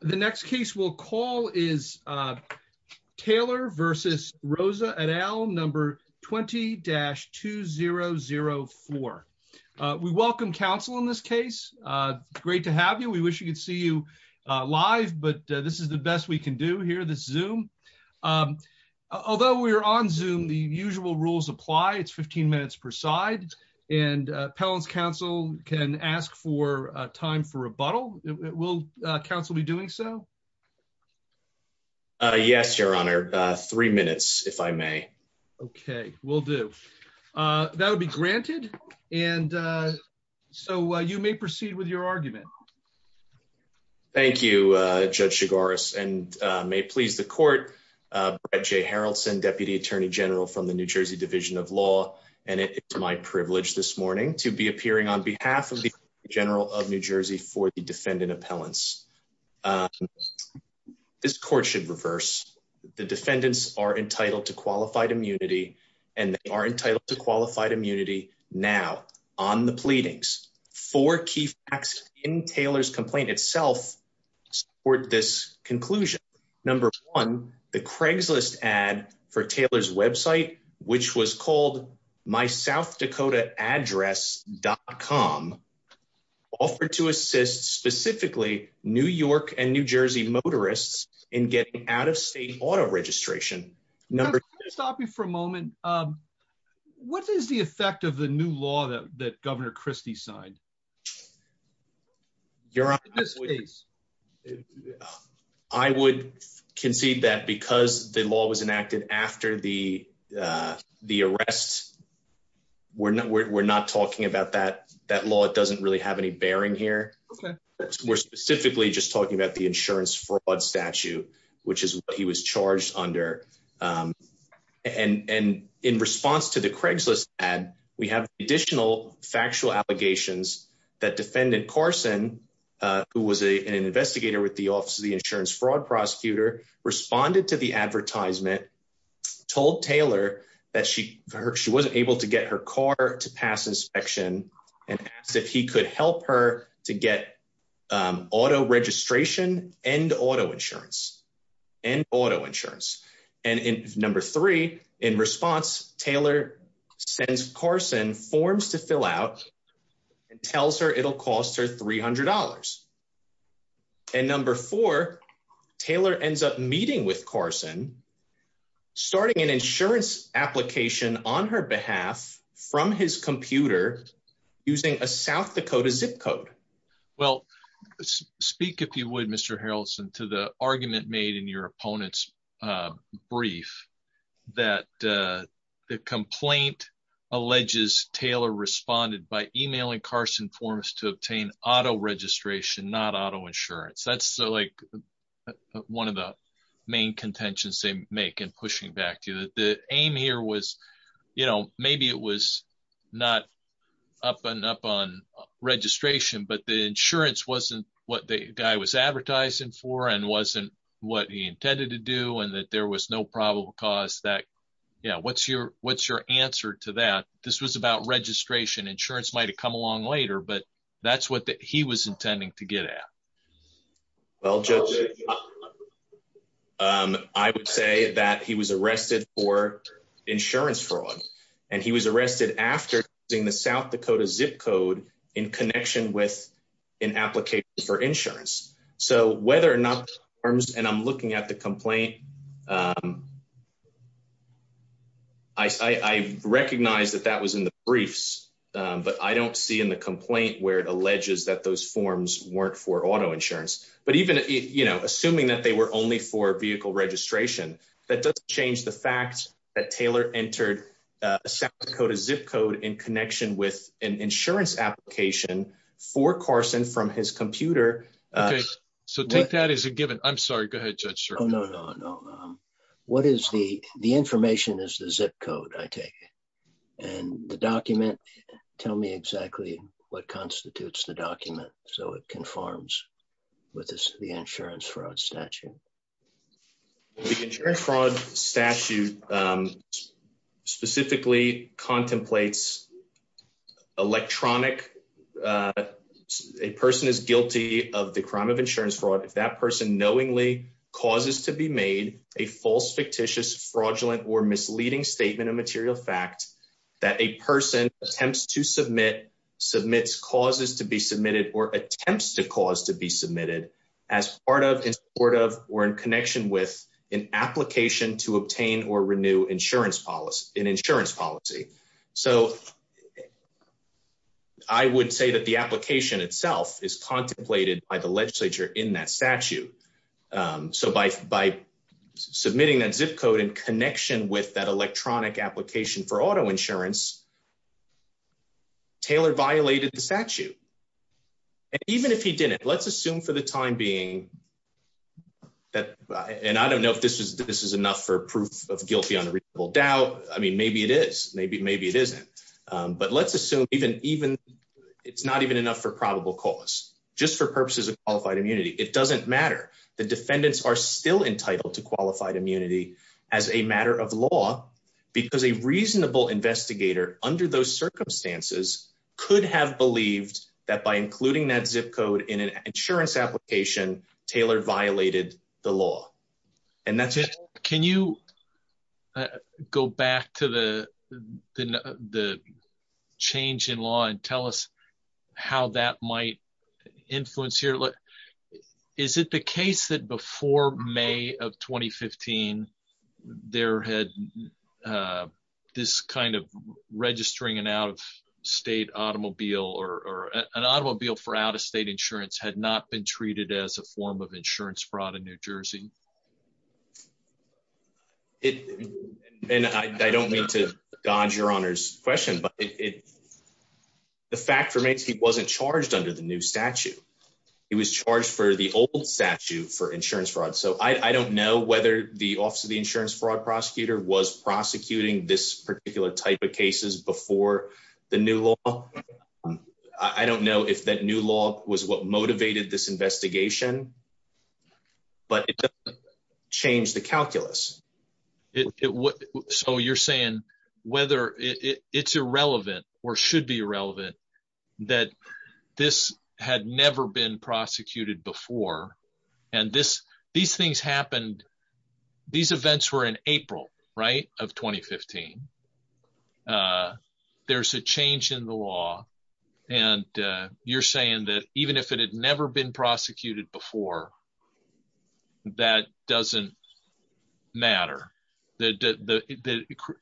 The next case we'll call is Taylor versus Rosa et al. Number 20-2004. We welcome counsel in this case. Great to have you. We wish we could see you live, but this is the best we can do here, this Zoom. Although we're on Zoom, the usual rules apply. It's 15 minutes per side, and Pellon's counsel can ask for time for rebuttal. Will counsel be doing so? Yes, your honor. Three minutes, if I may. Okay, will do. That would be granted, and so you may proceed with your argument. Thank you, Judge Chigoris, and may it please the court, Brett J. Harrelson, Deputy Attorney General from the New Jersey Division of Law, and it is my privilege this morning to be appearing on behalf of the Attorney General of New Jersey for the defendant appellants. This court should reverse. The defendants are entitled to qualified immunity, and they are entitled to qualified immunity now on the pleadings. Four key facts in Taylor's complaint itself support this conclusion. Number one, the Craigslist ad for Taylor's website, which was called mysouthdakotaaddress.com, offered to assist specifically New York and New Jersey motorists in getting out-of-state auto registration. Number two... Can I stop you for a moment? What is the effect of the new law that Governor Christie signed? Your honor, I would concede that because the law was enacted after the arrest, we're not talking about that law. It doesn't really have any bearing here. We're specifically just talking about the insurance fraud statute, which is what he was alleging. The defendant, Carson, who was an investigator with the Office of the Insurance Fraud Prosecutor, responded to the advertisement, told Taylor that she wasn't able to get her car to pass inspection, and asked if he could help her to get auto registration and auto insurance. And in number three, in response, Taylor sends Carson forms to fill out and tells her it'll cost her $300. And number four, Taylor ends up meeting with Carson, starting an insurance application on her behalf from his computer using a South Dakota zip code. Well, speak if you would, Mr. Harrelson, to the argument made in your opponent's brief that the complaint alleges Taylor responded by emailing Carson forms to obtain auto registration, not auto insurance. That's like one of the main contentions they make in pushing back to you. The aim here was, you know, maybe it was not up and up on registration, but the insurance wasn't what the guy was advertising for, and wasn't what he intended to do, and that there was no probable cause that, you know, what's your answer to that? This was about registration. Insurance might have come along later, but that's what he was intending to get at. Well, Judge, I would say that he was arrested for insurance fraud, and he was arrested after using the South for insurance. So whether or not, and I'm looking at the complaint, I recognize that that was in the briefs, but I don't see in the complaint where it alleges that those forms weren't for auto insurance. But even, you know, assuming that they were only for vehicle registration, that doesn't change the fact that Taylor entered a South Dakota zip code in an insurance application for Carson from his computer. Okay, so take that as a given. I'm sorry. Go ahead, Judge Sherman. No, no, no, no. What is the, the information is the zip code, I take it. And the document, tell me exactly what constitutes the document so it conforms with the insurance fraud statute. The insurance fraud statute specifically contemplates electronic, a person is guilty of the crime of insurance fraud if that person knowingly causes to be made a false, fictitious, fraudulent, or misleading statement of material fact that a person attempts to submit, submits causes to be submitted, or attempts to cause to be submitted as part of, in support of, or in connection with an application to obtain or obtain. I would say that the application itself is contemplated by the legislature in that statute. So by, by submitting that zip code in connection with that electronic application for auto insurance, Taylor violated the statute. And even if he didn't, let's assume for the time being that, and I don't know if this is, this is enough for proof of guilty unreasonable doubt. I mean, maybe it is, maybe, maybe it isn't. But let's assume even, even it's not even enough for probable cause just for purposes of qualified immunity. It doesn't matter. The defendants are still entitled to qualified immunity as a matter of law because a reasonable investigator under those circumstances could have believed that by including that zip code in an insurance application, Taylor violated the law. And that's it. Can you go back to the, the, the change in law and tell us how that might influence here? Is it the case that before May of 2015, there had this kind of registering an out of state automobile or an automobile for out of state insurance had not been treated as a form of insurance fraud in New Jersey? It, and I don't mean to dodge your honor's question, but it, the fact remains he wasn't charged under the new statute. He was charged for the old statute for insurance fraud. So I don't know whether the office of the insurance fraud prosecutor was prosecuting this particular type of cases before the new law. I don't know if that new law was what motivated this investigation, but change the calculus. So you're saying whether it's irrelevant or should be irrelevant that this had never been prosecuted before. And this, these things happened, these events were in April, right? Of 2015. There's a change in the law and you're saying that even if it had never been prosecuted before, that doesn't matter. The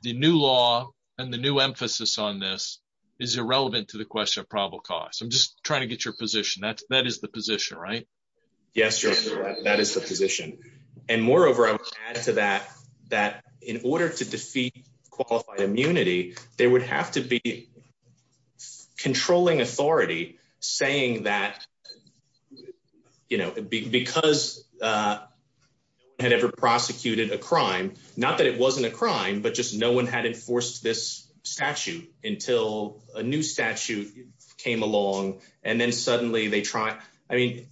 new law and the new emphasis on this is irrelevant to the question of probable cause. I'm just trying to get your position, right? Yes, sir. That is the position. And moreover, I would add to that, that in order to defeat qualified immunity, they would have to be controlling authority saying that, you know, because no one had ever prosecuted a crime, not that it wasn't a crime, but just no one had enforced this statute until a new statute came along. And then suddenly they try. I mean,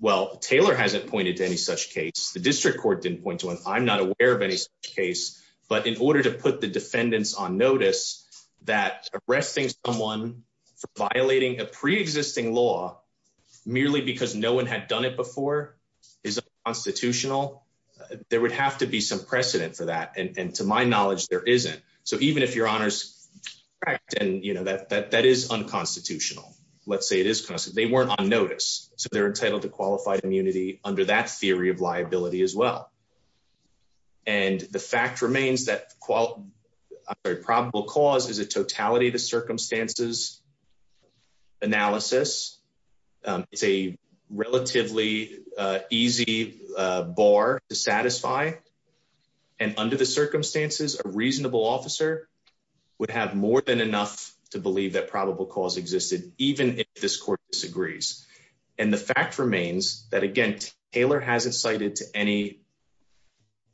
well, Taylor hasn't pointed to any such case. The district court didn't point to one. I'm not aware of any case, but in order to put the defendants on notice that arresting someone for violating a preexisting law merely because no one had done it before is constitutional. There would have to be some precedent for that. And to my knowledge, there isn't. So even if your honor's correct, and you know, that is unconstitutional, let's say it is. They weren't on notice, so they're entitled to qualified immunity under that theory of liability as well. And the fact remains that probable cause is a totality to circumstances analysis. It's a relatively easy bar to satisfy. And under the circumstances, a reasonable officer would have more than enough to believe that probable cause existed, even if this court disagrees. And the fact remains that again, Taylor hasn't cited to any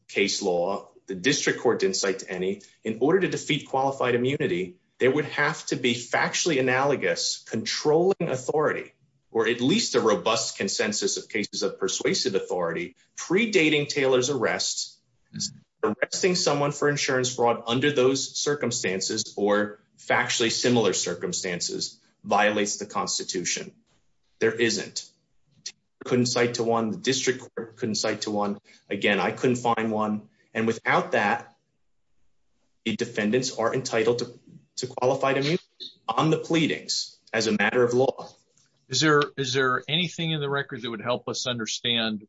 case law. The district court didn't cite to any. In order to defeat qualified immunity, there would have to be factually analogous controlling authority or at least a robust consensus of cases of persuasive authority predating Taylor's arrest. Arresting someone for insurance fraud under those circumstances or factually similar circumstances violates the constitution. There isn't. Couldn't cite to one. District couldn't cite to one. Again, I couldn't find one. And without that, the defendants are entitled to qualified immunity on the pleadings as a matter of law. Is there is there anything in the record that would help us understand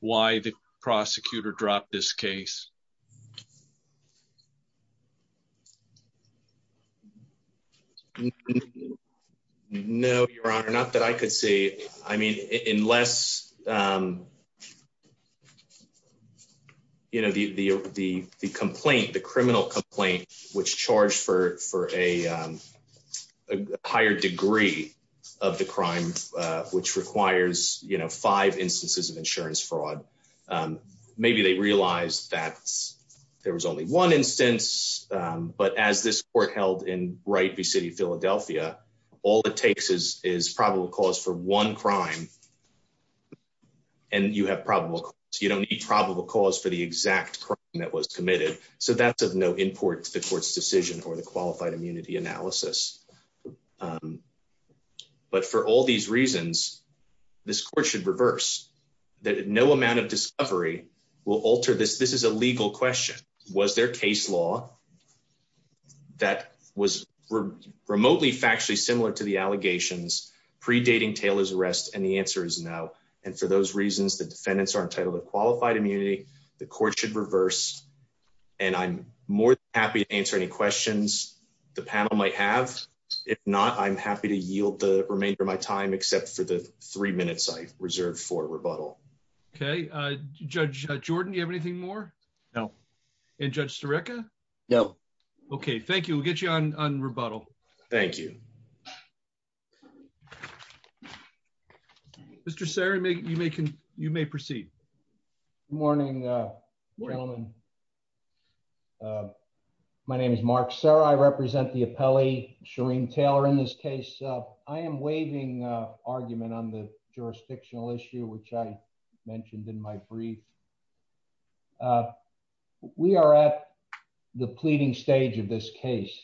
why the prosecutor dropped this case? No, Your Honor, not that I could see. I mean, unless, um, you know, the the the the complaint, the criminal complaint, which charged for for a higher degree of the crime, which requires, you know, five instances of insurance fraud. Um, maybe they realized that there was only one instance. But as this court held in Wright v. City Philadelphia, all it takes is is probable cause for one crime. And you have probable. You don't need probable cause for the exact crime that was committed. So that's of no import to the court's decision or the qualified immunity analysis. Um, but for all these reasons, this court should reverse that. No amount of discovery will alter this. This is a legal question. Was there case law that was remotely factually similar to the allegations predating Taylor's arrest? And the answer is no. And for those reasons, the defendants are entitled to qualified immunity. The court should reverse. And I'm more happy to answer any questions the panel might have. If not, I'm happy to yield the remainder of my time, except for the three minutes I reserved for rebuttal. Okay, Judge Jordan, you have anything more? No. And Judge Serica? No. Okay, thank you. We'll get you on on rebuttal. Thank you. Mr. Sarah, make you making you may proceed. Morning. Morning. My name is Mark Sarah. I represent the appellee, Shereen Taylor. In this case, I am waiving argument on the jurisdictional issue, which I mentioned in my brief. We are at the pleading stage of this case,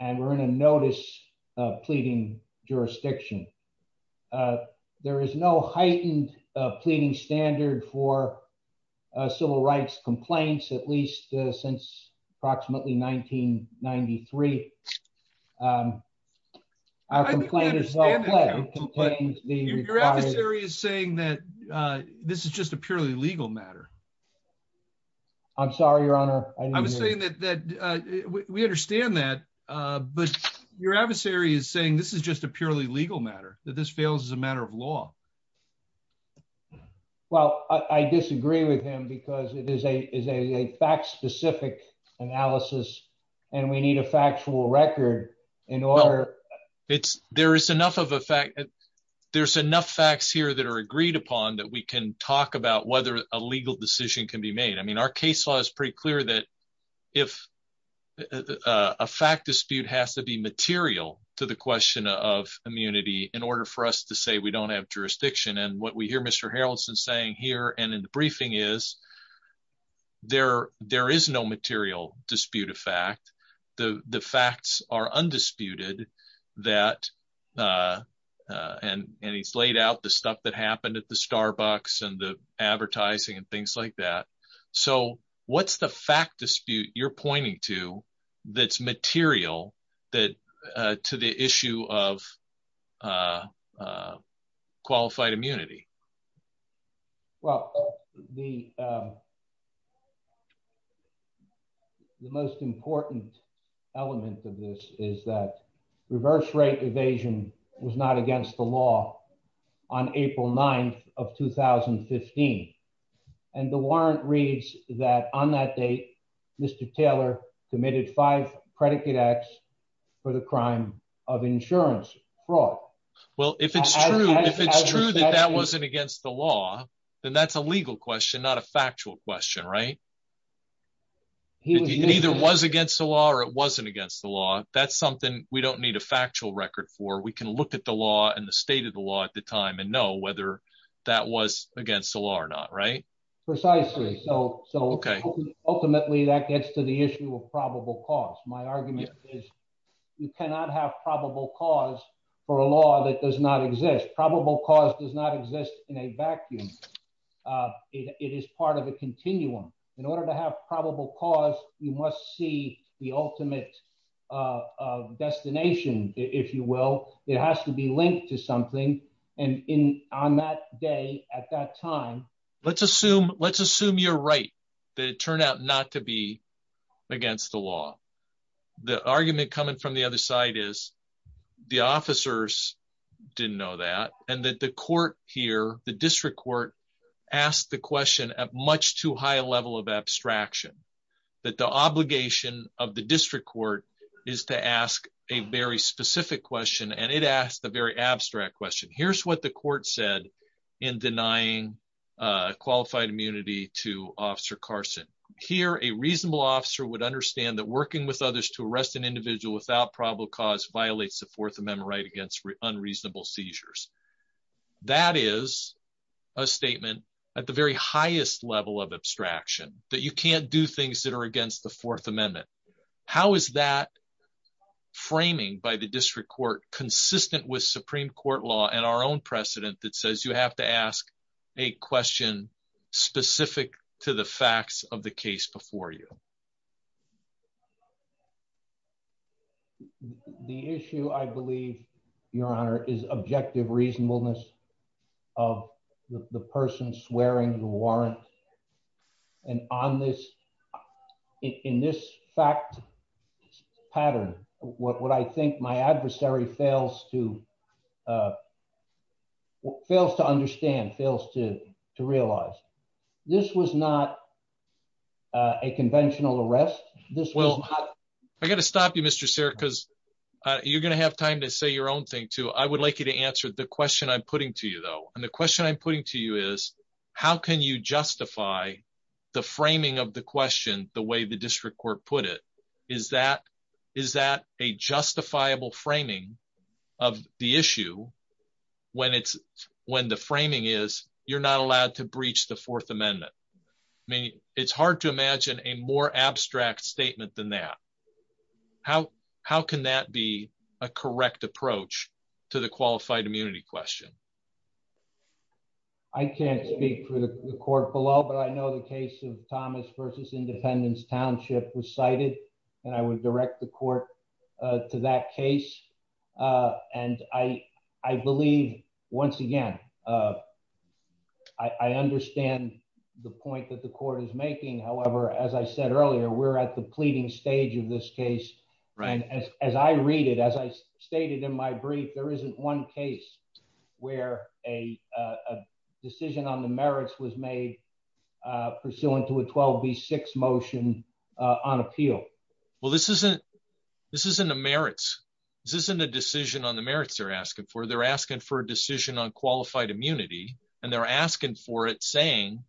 and we're in a notice of pleading jurisdiction. There is no heightened pleading standard for civil rights complaints, at least since approximately 1993. I'm saying that this is just a purely legal matter. I'm sorry, Your Honor, I was saying that we understand that. But your adversary is saying this is just a purely legal matter, that this fails as a matter of law. Well, I disagree with him because it is a fact-specific analysis, and we need a factual record in order. There's enough facts here that are agreed upon that we can talk about whether a legal decision can be made. I mean, our case law is pretty clear that if a fact dispute has to be material to the question of immunity in order for us to say we don't have jurisdiction, and what we hear Mr. Harrelson saying here and in the briefing is there is no material dispute of fact. The facts are undisputed, and he's laid out the stuff that happened at the Starbucks and the advertising and things like that. So what's the fact dispute you're pointing to that's material to the issue of qualified immunity? Well, the most important element of this is that reverse rate evasion was not against the law on April 9th of 2015. And the warrant reads that on that date, Mr. Taylor committed five predicate acts for the crime of insurance fraud. Well, if it's true that that wasn't against the law, then that's a legal question, not a factual question, right? It either was against the law or it wasn't against the law. That's something we can look at the law and the state of the law at the time and know whether that was against the law or not, right? Precisely. So ultimately, that gets to the issue of probable cause. My argument is you cannot have probable cause for a law that does not exist. Probable cause does not exist in a vacuum. It is part of a continuum. In order to have probable cause, you must see the ultimate destination, if you will. It has to be linked to something. And on that day, at that time... Let's assume you're right, that it turned out not to be against the law. The argument coming from the other side is the officers didn't know that, and that the court here, the district court asked the question at much too high a level of abstraction, that the obligation of the district court is to ask a very specific question, and it asked a very abstract question. Here's what the court said in denying qualified immunity to Officer Carson. Here, a reasonable officer would understand that working with others to arrest an individual without probable cause violates the Fourth Amendment right against unreasonable seizures. That is a statement at the very highest level of abstraction, that you can't do things that are against the Fourth Amendment. How is that framing by the district court consistent with Supreme Court law and our own precedent that says you have to ask a question specific to the facts of the case before you? The issue, I believe, Your Honor, is objective reasonableness of the person swearing the warrant. And on this, in this fact pattern, what I think my adversary fails to understand, fails to realize, this was not a conventional arrest. I got to stop you, Mr. Sir, because you're going to have time to say your own thing, too. I would like you to answer the question I'm putting to you, though. And the question I'm putting to you is, how can you justify the framing of the question the way the district court put it? Is that a justifiable framing of the issue when the framing is you're not allowed to breach the Fourth Amendment? I mean, it's hard to imagine a more abstract statement than that. How can that be a correct approach to the qualified immunity question? I can't speak for the court below, but I know the case of Thomas versus Independence Township was cited, and I would direct the court to that case. And I believe, once again, I understand the point that the court is making. However, as I said earlier, we're at the pleading stage of this case. As I read it, as I stated in my brief, there isn't one case where a decision on the merits was made pursuant to a 12B6 motion on appeal. Well, this isn't a decision on the merits they're asking for. They're asking for a decision on qualified immunity, and they're asking for it saying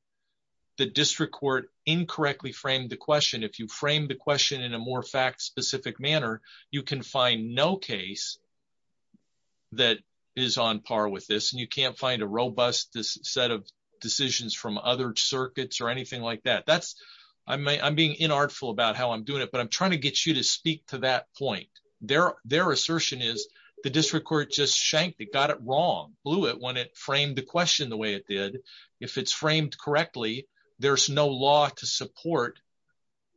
the district court incorrectly framed the question. If you frame the question in a more fact-specific manner, you can find no case that is on par with this, and you can't find a robust set of decisions from other circuits or anything like that. I'm being inartful about how I'm doing it, but I'm trying to get you to speak to that point. Their assertion is the district court just shanked it, got it wrong, blew it when it framed the question the way it did. If it's framed correctly, there's no law to support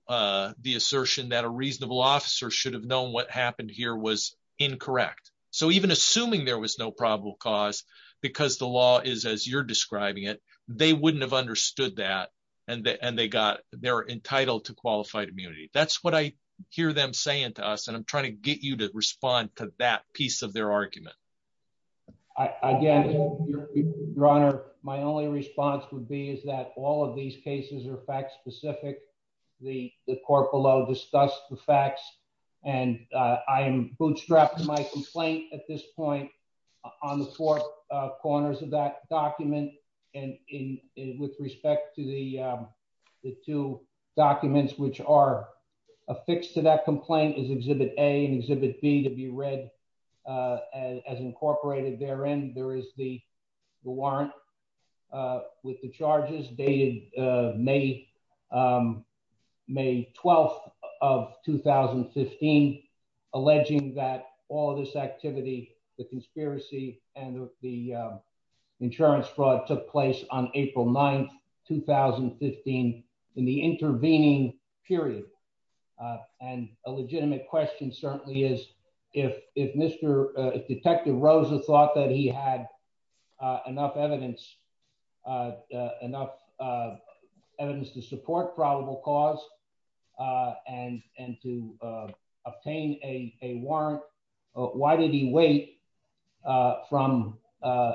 the assertion that a reasonable officer should have known what happened here was incorrect. So even assuming there was no probable cause, because the law is as you're describing it, they wouldn't have understood that, and they're entitled to qualified immunity. That's what I hear them saying to us, and I'm trying to get you to respond to that piece of their argument. Again, Your Honor, my only response would be is that all of these cases are fact-specific, the court below discussed the facts, and I am bootstrapping my complaint at this point on the four corners of that document, and with respect to the two documents which are affixed to that complaint is Exhibit A and Exhibit B to be read as incorporated. Therein, there is the warrant with the charges dated May 12th of 2015, alleging that all this activity, the conspiracy, and the insurance fraud took place on April 9th, 2015, in the intervening period, and a legitimate question certainly is if Detective Rosa thought that he had enough evidence to support probable cause and to obtain a warrant, why did he wait from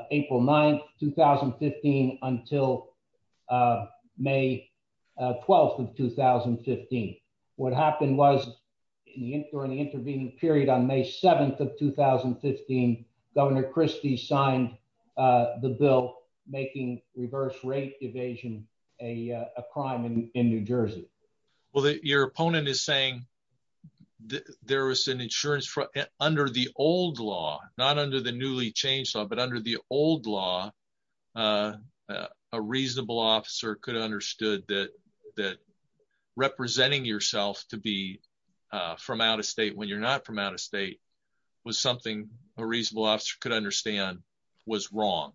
April 9th, 2015, until May 12th of 2015? What happened was during the intervening period on May 7th of 2015, Governor Christie signed the bill making reverse rate evasion a crime in New Under the newly changed law, but under the old law, a reasonable officer could have understood that representing yourself to be from out of state when you're not from out of state was something a reasonable officer could understand was wrong.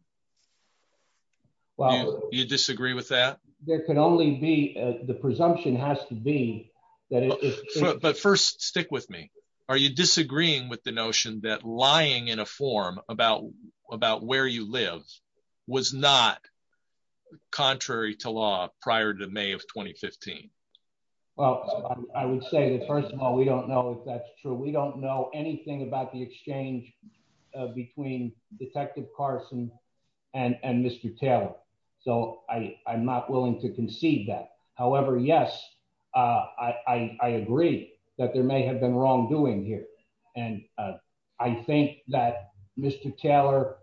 Do you disagree with that? There can only be, the presumption has to be. But first stick with me. Are you disagreeing with the notion that lying in a form about where you live was not contrary to law prior to May of 2015? Well, I would say that first of all, we don't know if that's true. We don't know anything about the exchange between Detective Carson and Mr. Taylor. So I'm not willing to concede that. However, yes, I agree that there may have been wrongdoing here. And I think that Mr. Taylor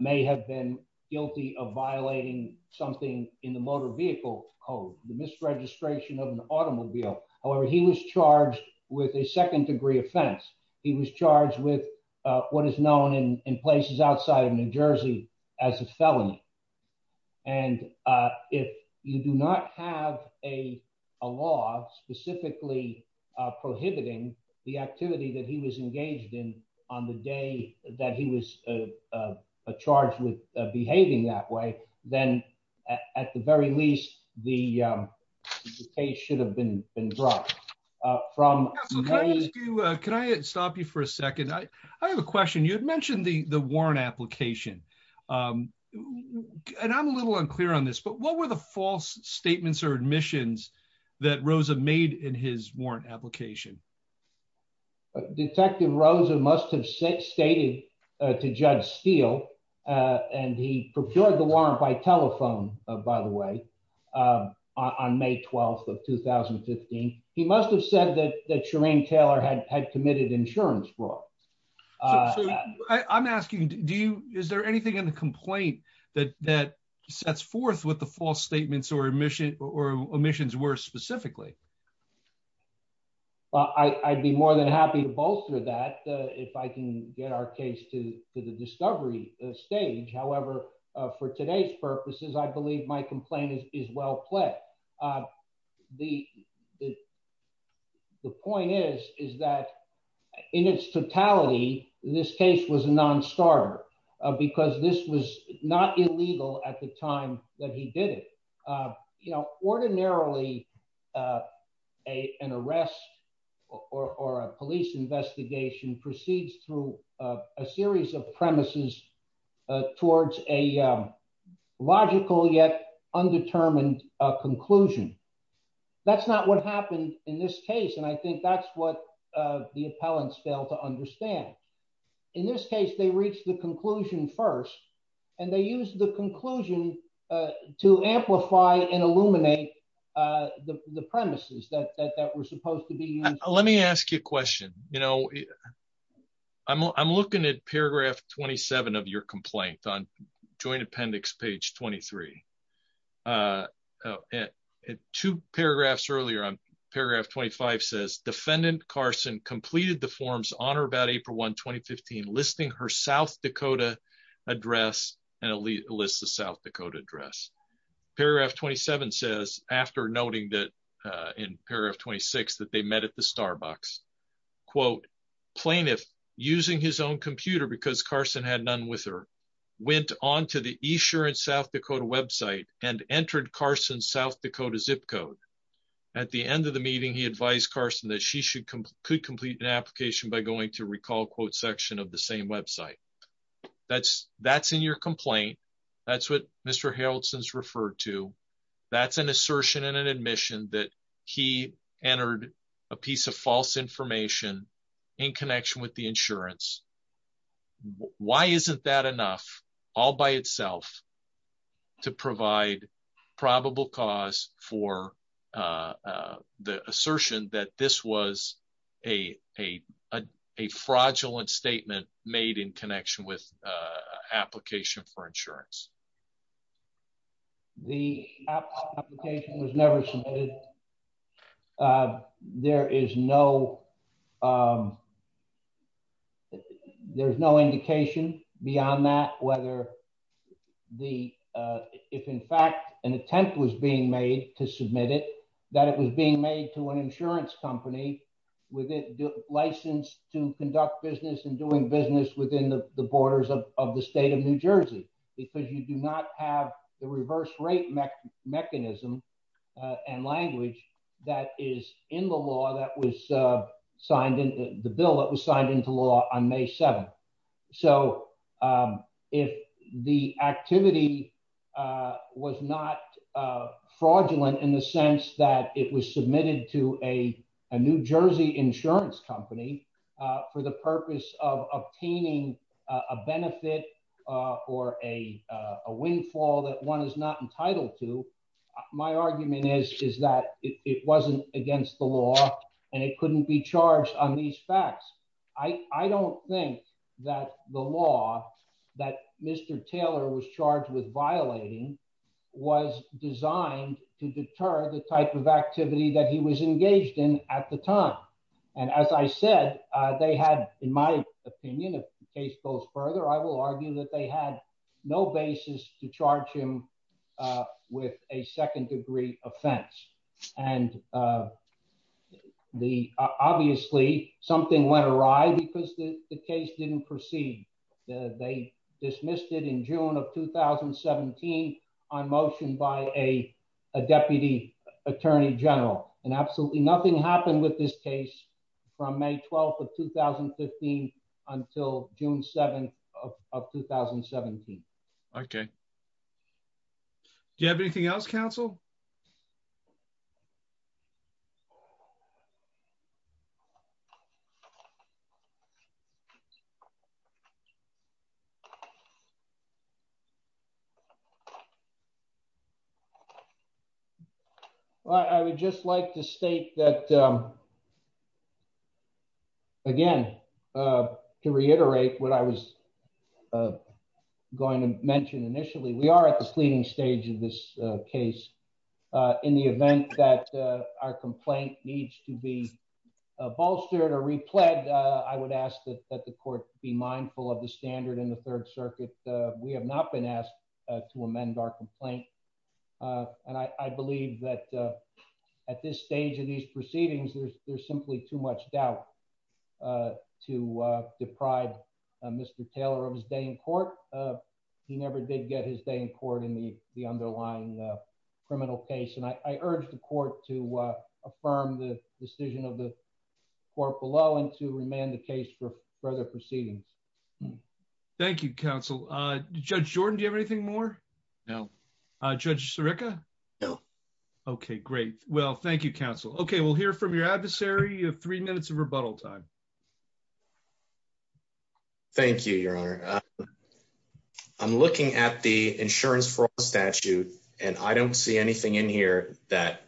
may have been guilty of violating something in the motor vehicle code, the misregistration of an automobile. However, he was charged with a second degree offense. He was charged with what is known in places outside of New Jersey, as a felony. And if you do not have a law specifically prohibiting the activity that he was engaged in on the day that he was charged with behaving that way, then at the very least, the case should have been brought up from... Can I stop you for a second? I have a question. You had mentioned the warrant application. And I'm a little unclear on this, but what were the false statements or admissions that Rosa made in his warrant application? Detective Rosa must have stated to Judge Steele, and he procured the warrant by telephone, by the way, on May 12 of 2015. He must have said that he had committed insurance fraud. I'm asking, is there anything in the complaint that sets forth what the false statements or omissions were specifically? Well, I'd be more than happy to bolster that if I can get our case to the discovery stage. However, for today's purposes, I believe my complaint is well played. The point is that in its totality, this case was a non-starter because this was not illegal at the time that he did it. Ordinarily, an arrest or a police investigation proceeds through a series of premises towards a logical yet undetermined conclusion. That's not what happened in this case. And I think that's what the appellants failed to understand. In this case, they reached the conclusion first, and they used the conclusion to amplify and illuminate the premises that were Let me ask you a question. I'm looking at paragraph 27 of your complaint on Joint Appendix page 23. Two paragraphs earlier, paragraph 25 says, Defendant Carson completed the forms on or about April 1, 2015, listing her South Dakota address and a list of South Dakota address. Paragraph 27 says, after noting that in paragraph 26, that they met at the Starbucks. Quote, Plaintiff, using his own computer because Carson had none with her, went on to the E-Sher in South Dakota website and entered Carson's South Dakota zip code. At the end of the meeting, he advised Carson that she could complete an application by going to recall quote section of the same website. That's in your complaint. That's what Mr. Harrelson's referred to. That's an assertion and an admission that he entered a piece of false information in connection with the insurance. Why isn't that enough all by itself to provide probable cause for the assertion that this was a fraudulent statement made in connection with an application for insurance? The application was never submitted. There is no indication beyond that whether if in fact an attempt was being made to submit it, that it was being made to an insurance company with a license to conduct business and doing business within the borders of the state of New Jersey, because you do not have the reverse rate mechanism and language that is in the law that was signed into the bill that was signed into law on May 7th. If the activity was not insurance company for the purpose of obtaining a benefit or a windfall that one is not entitled to, my argument is that it wasn't against the law and it couldn't be charged on these facts. I don't think that the law that Mr. Taylor was charged with violating was designed to deter the type of activity that he was engaged in at the time. As I said, they had, in my opinion, if the case goes further, I will argue that they had no basis to charge him with a second degree offense. Obviously, something went awry because the case didn't proceed. They dismissed it in general. Absolutely nothing happened with this case from May 12th of 2015 until June 7th of 2017. Okay. Do you have anything else, counsel? I would just like to state that, again, to reiterate what I was going to mention initially, we are at the screening stage of this case. In the event that our complaint needs to be bolstered or replugged, I would ask that the court be mindful of the standard in the Third Circuit. We have not been asked to amend our complaint. I believe that at this stage of these proceedings, there's simply too much doubt to deprive Mr. Taylor of his day in court. He never did get his day in court in the underlying criminal case. I urge the court to affirm the decision of the court below and to remand the case for further proceedings. Thank you, counsel. Judge Jordan, do you have anything more? No. Judge Sirica? No. Okay, great. Well, thank you, counsel. Okay, we'll hear from your adversary. You have three minutes of rebuttal time. Thank you, Your Honor. I'm looking at the statute. I don't see anything in here that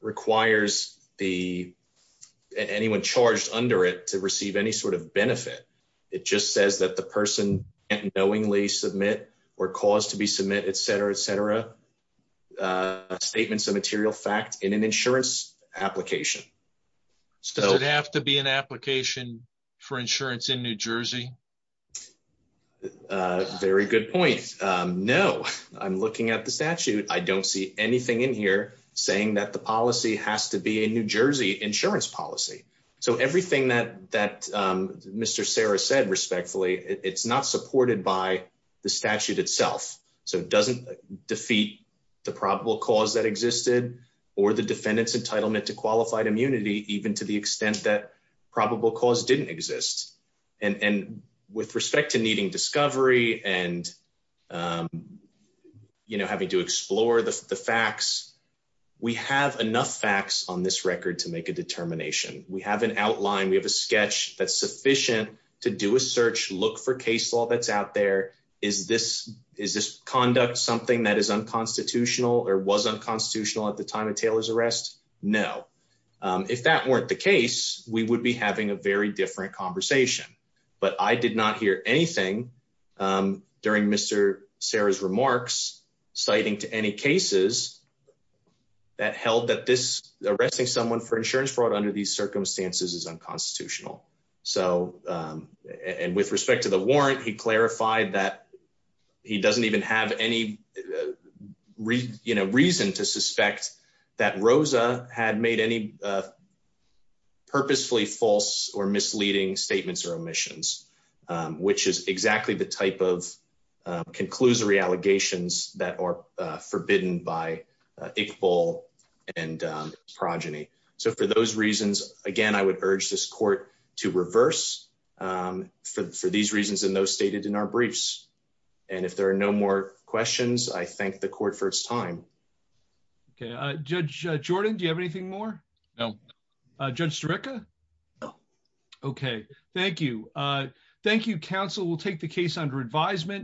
requires anyone charged under it to receive any sort of benefit. It just says that the person can't knowingly submit or cause to be submit, etc., statements of material fact in an insurance application. Does it have to be an application for insurance in New Jersey? A very good point. No. I'm looking at the statute. I don't see anything in here saying that the policy has to be a New Jersey insurance policy. So everything that Mr. Serra said respectfully, it's not supported by the statute itself. So it doesn't defeat the probable cause that existed or the defendant's entitlement to qualified immunity, even to the extent that probable cause didn't exist. And with respect to needing discovery and having to explore the facts, we have enough facts on this record to make a determination. We have an outline. We have a sketch that's sufficient to do a search, look for case law that's out there. Is this conduct something that is unconstitutional or was unconstitutional at the time of Taylor's arrest? No. If that weren't the case, we would be having a very different conversation. But I did not hear anything during Mr. Serra's remarks citing to any cases that held that this arresting someone for insurance fraud under these circumstances is unconstitutional. And with respect to the warrant, he clarified that he doesn't even have any reason to suspect that Rosa had made any purposefully false or misleading statements or omissions, which is exactly the type of conclusory allegations that are forbidden by Iqbal and progeny. So for those reasons, again, I would urge this court to reverse for these reasons and those questions. I thank the court for its time. Okay. Judge Jordan, do you have anything more? No. Judge Staricka? No. Okay. Thank you. Thank you, counsel. We'll take the case under advisement.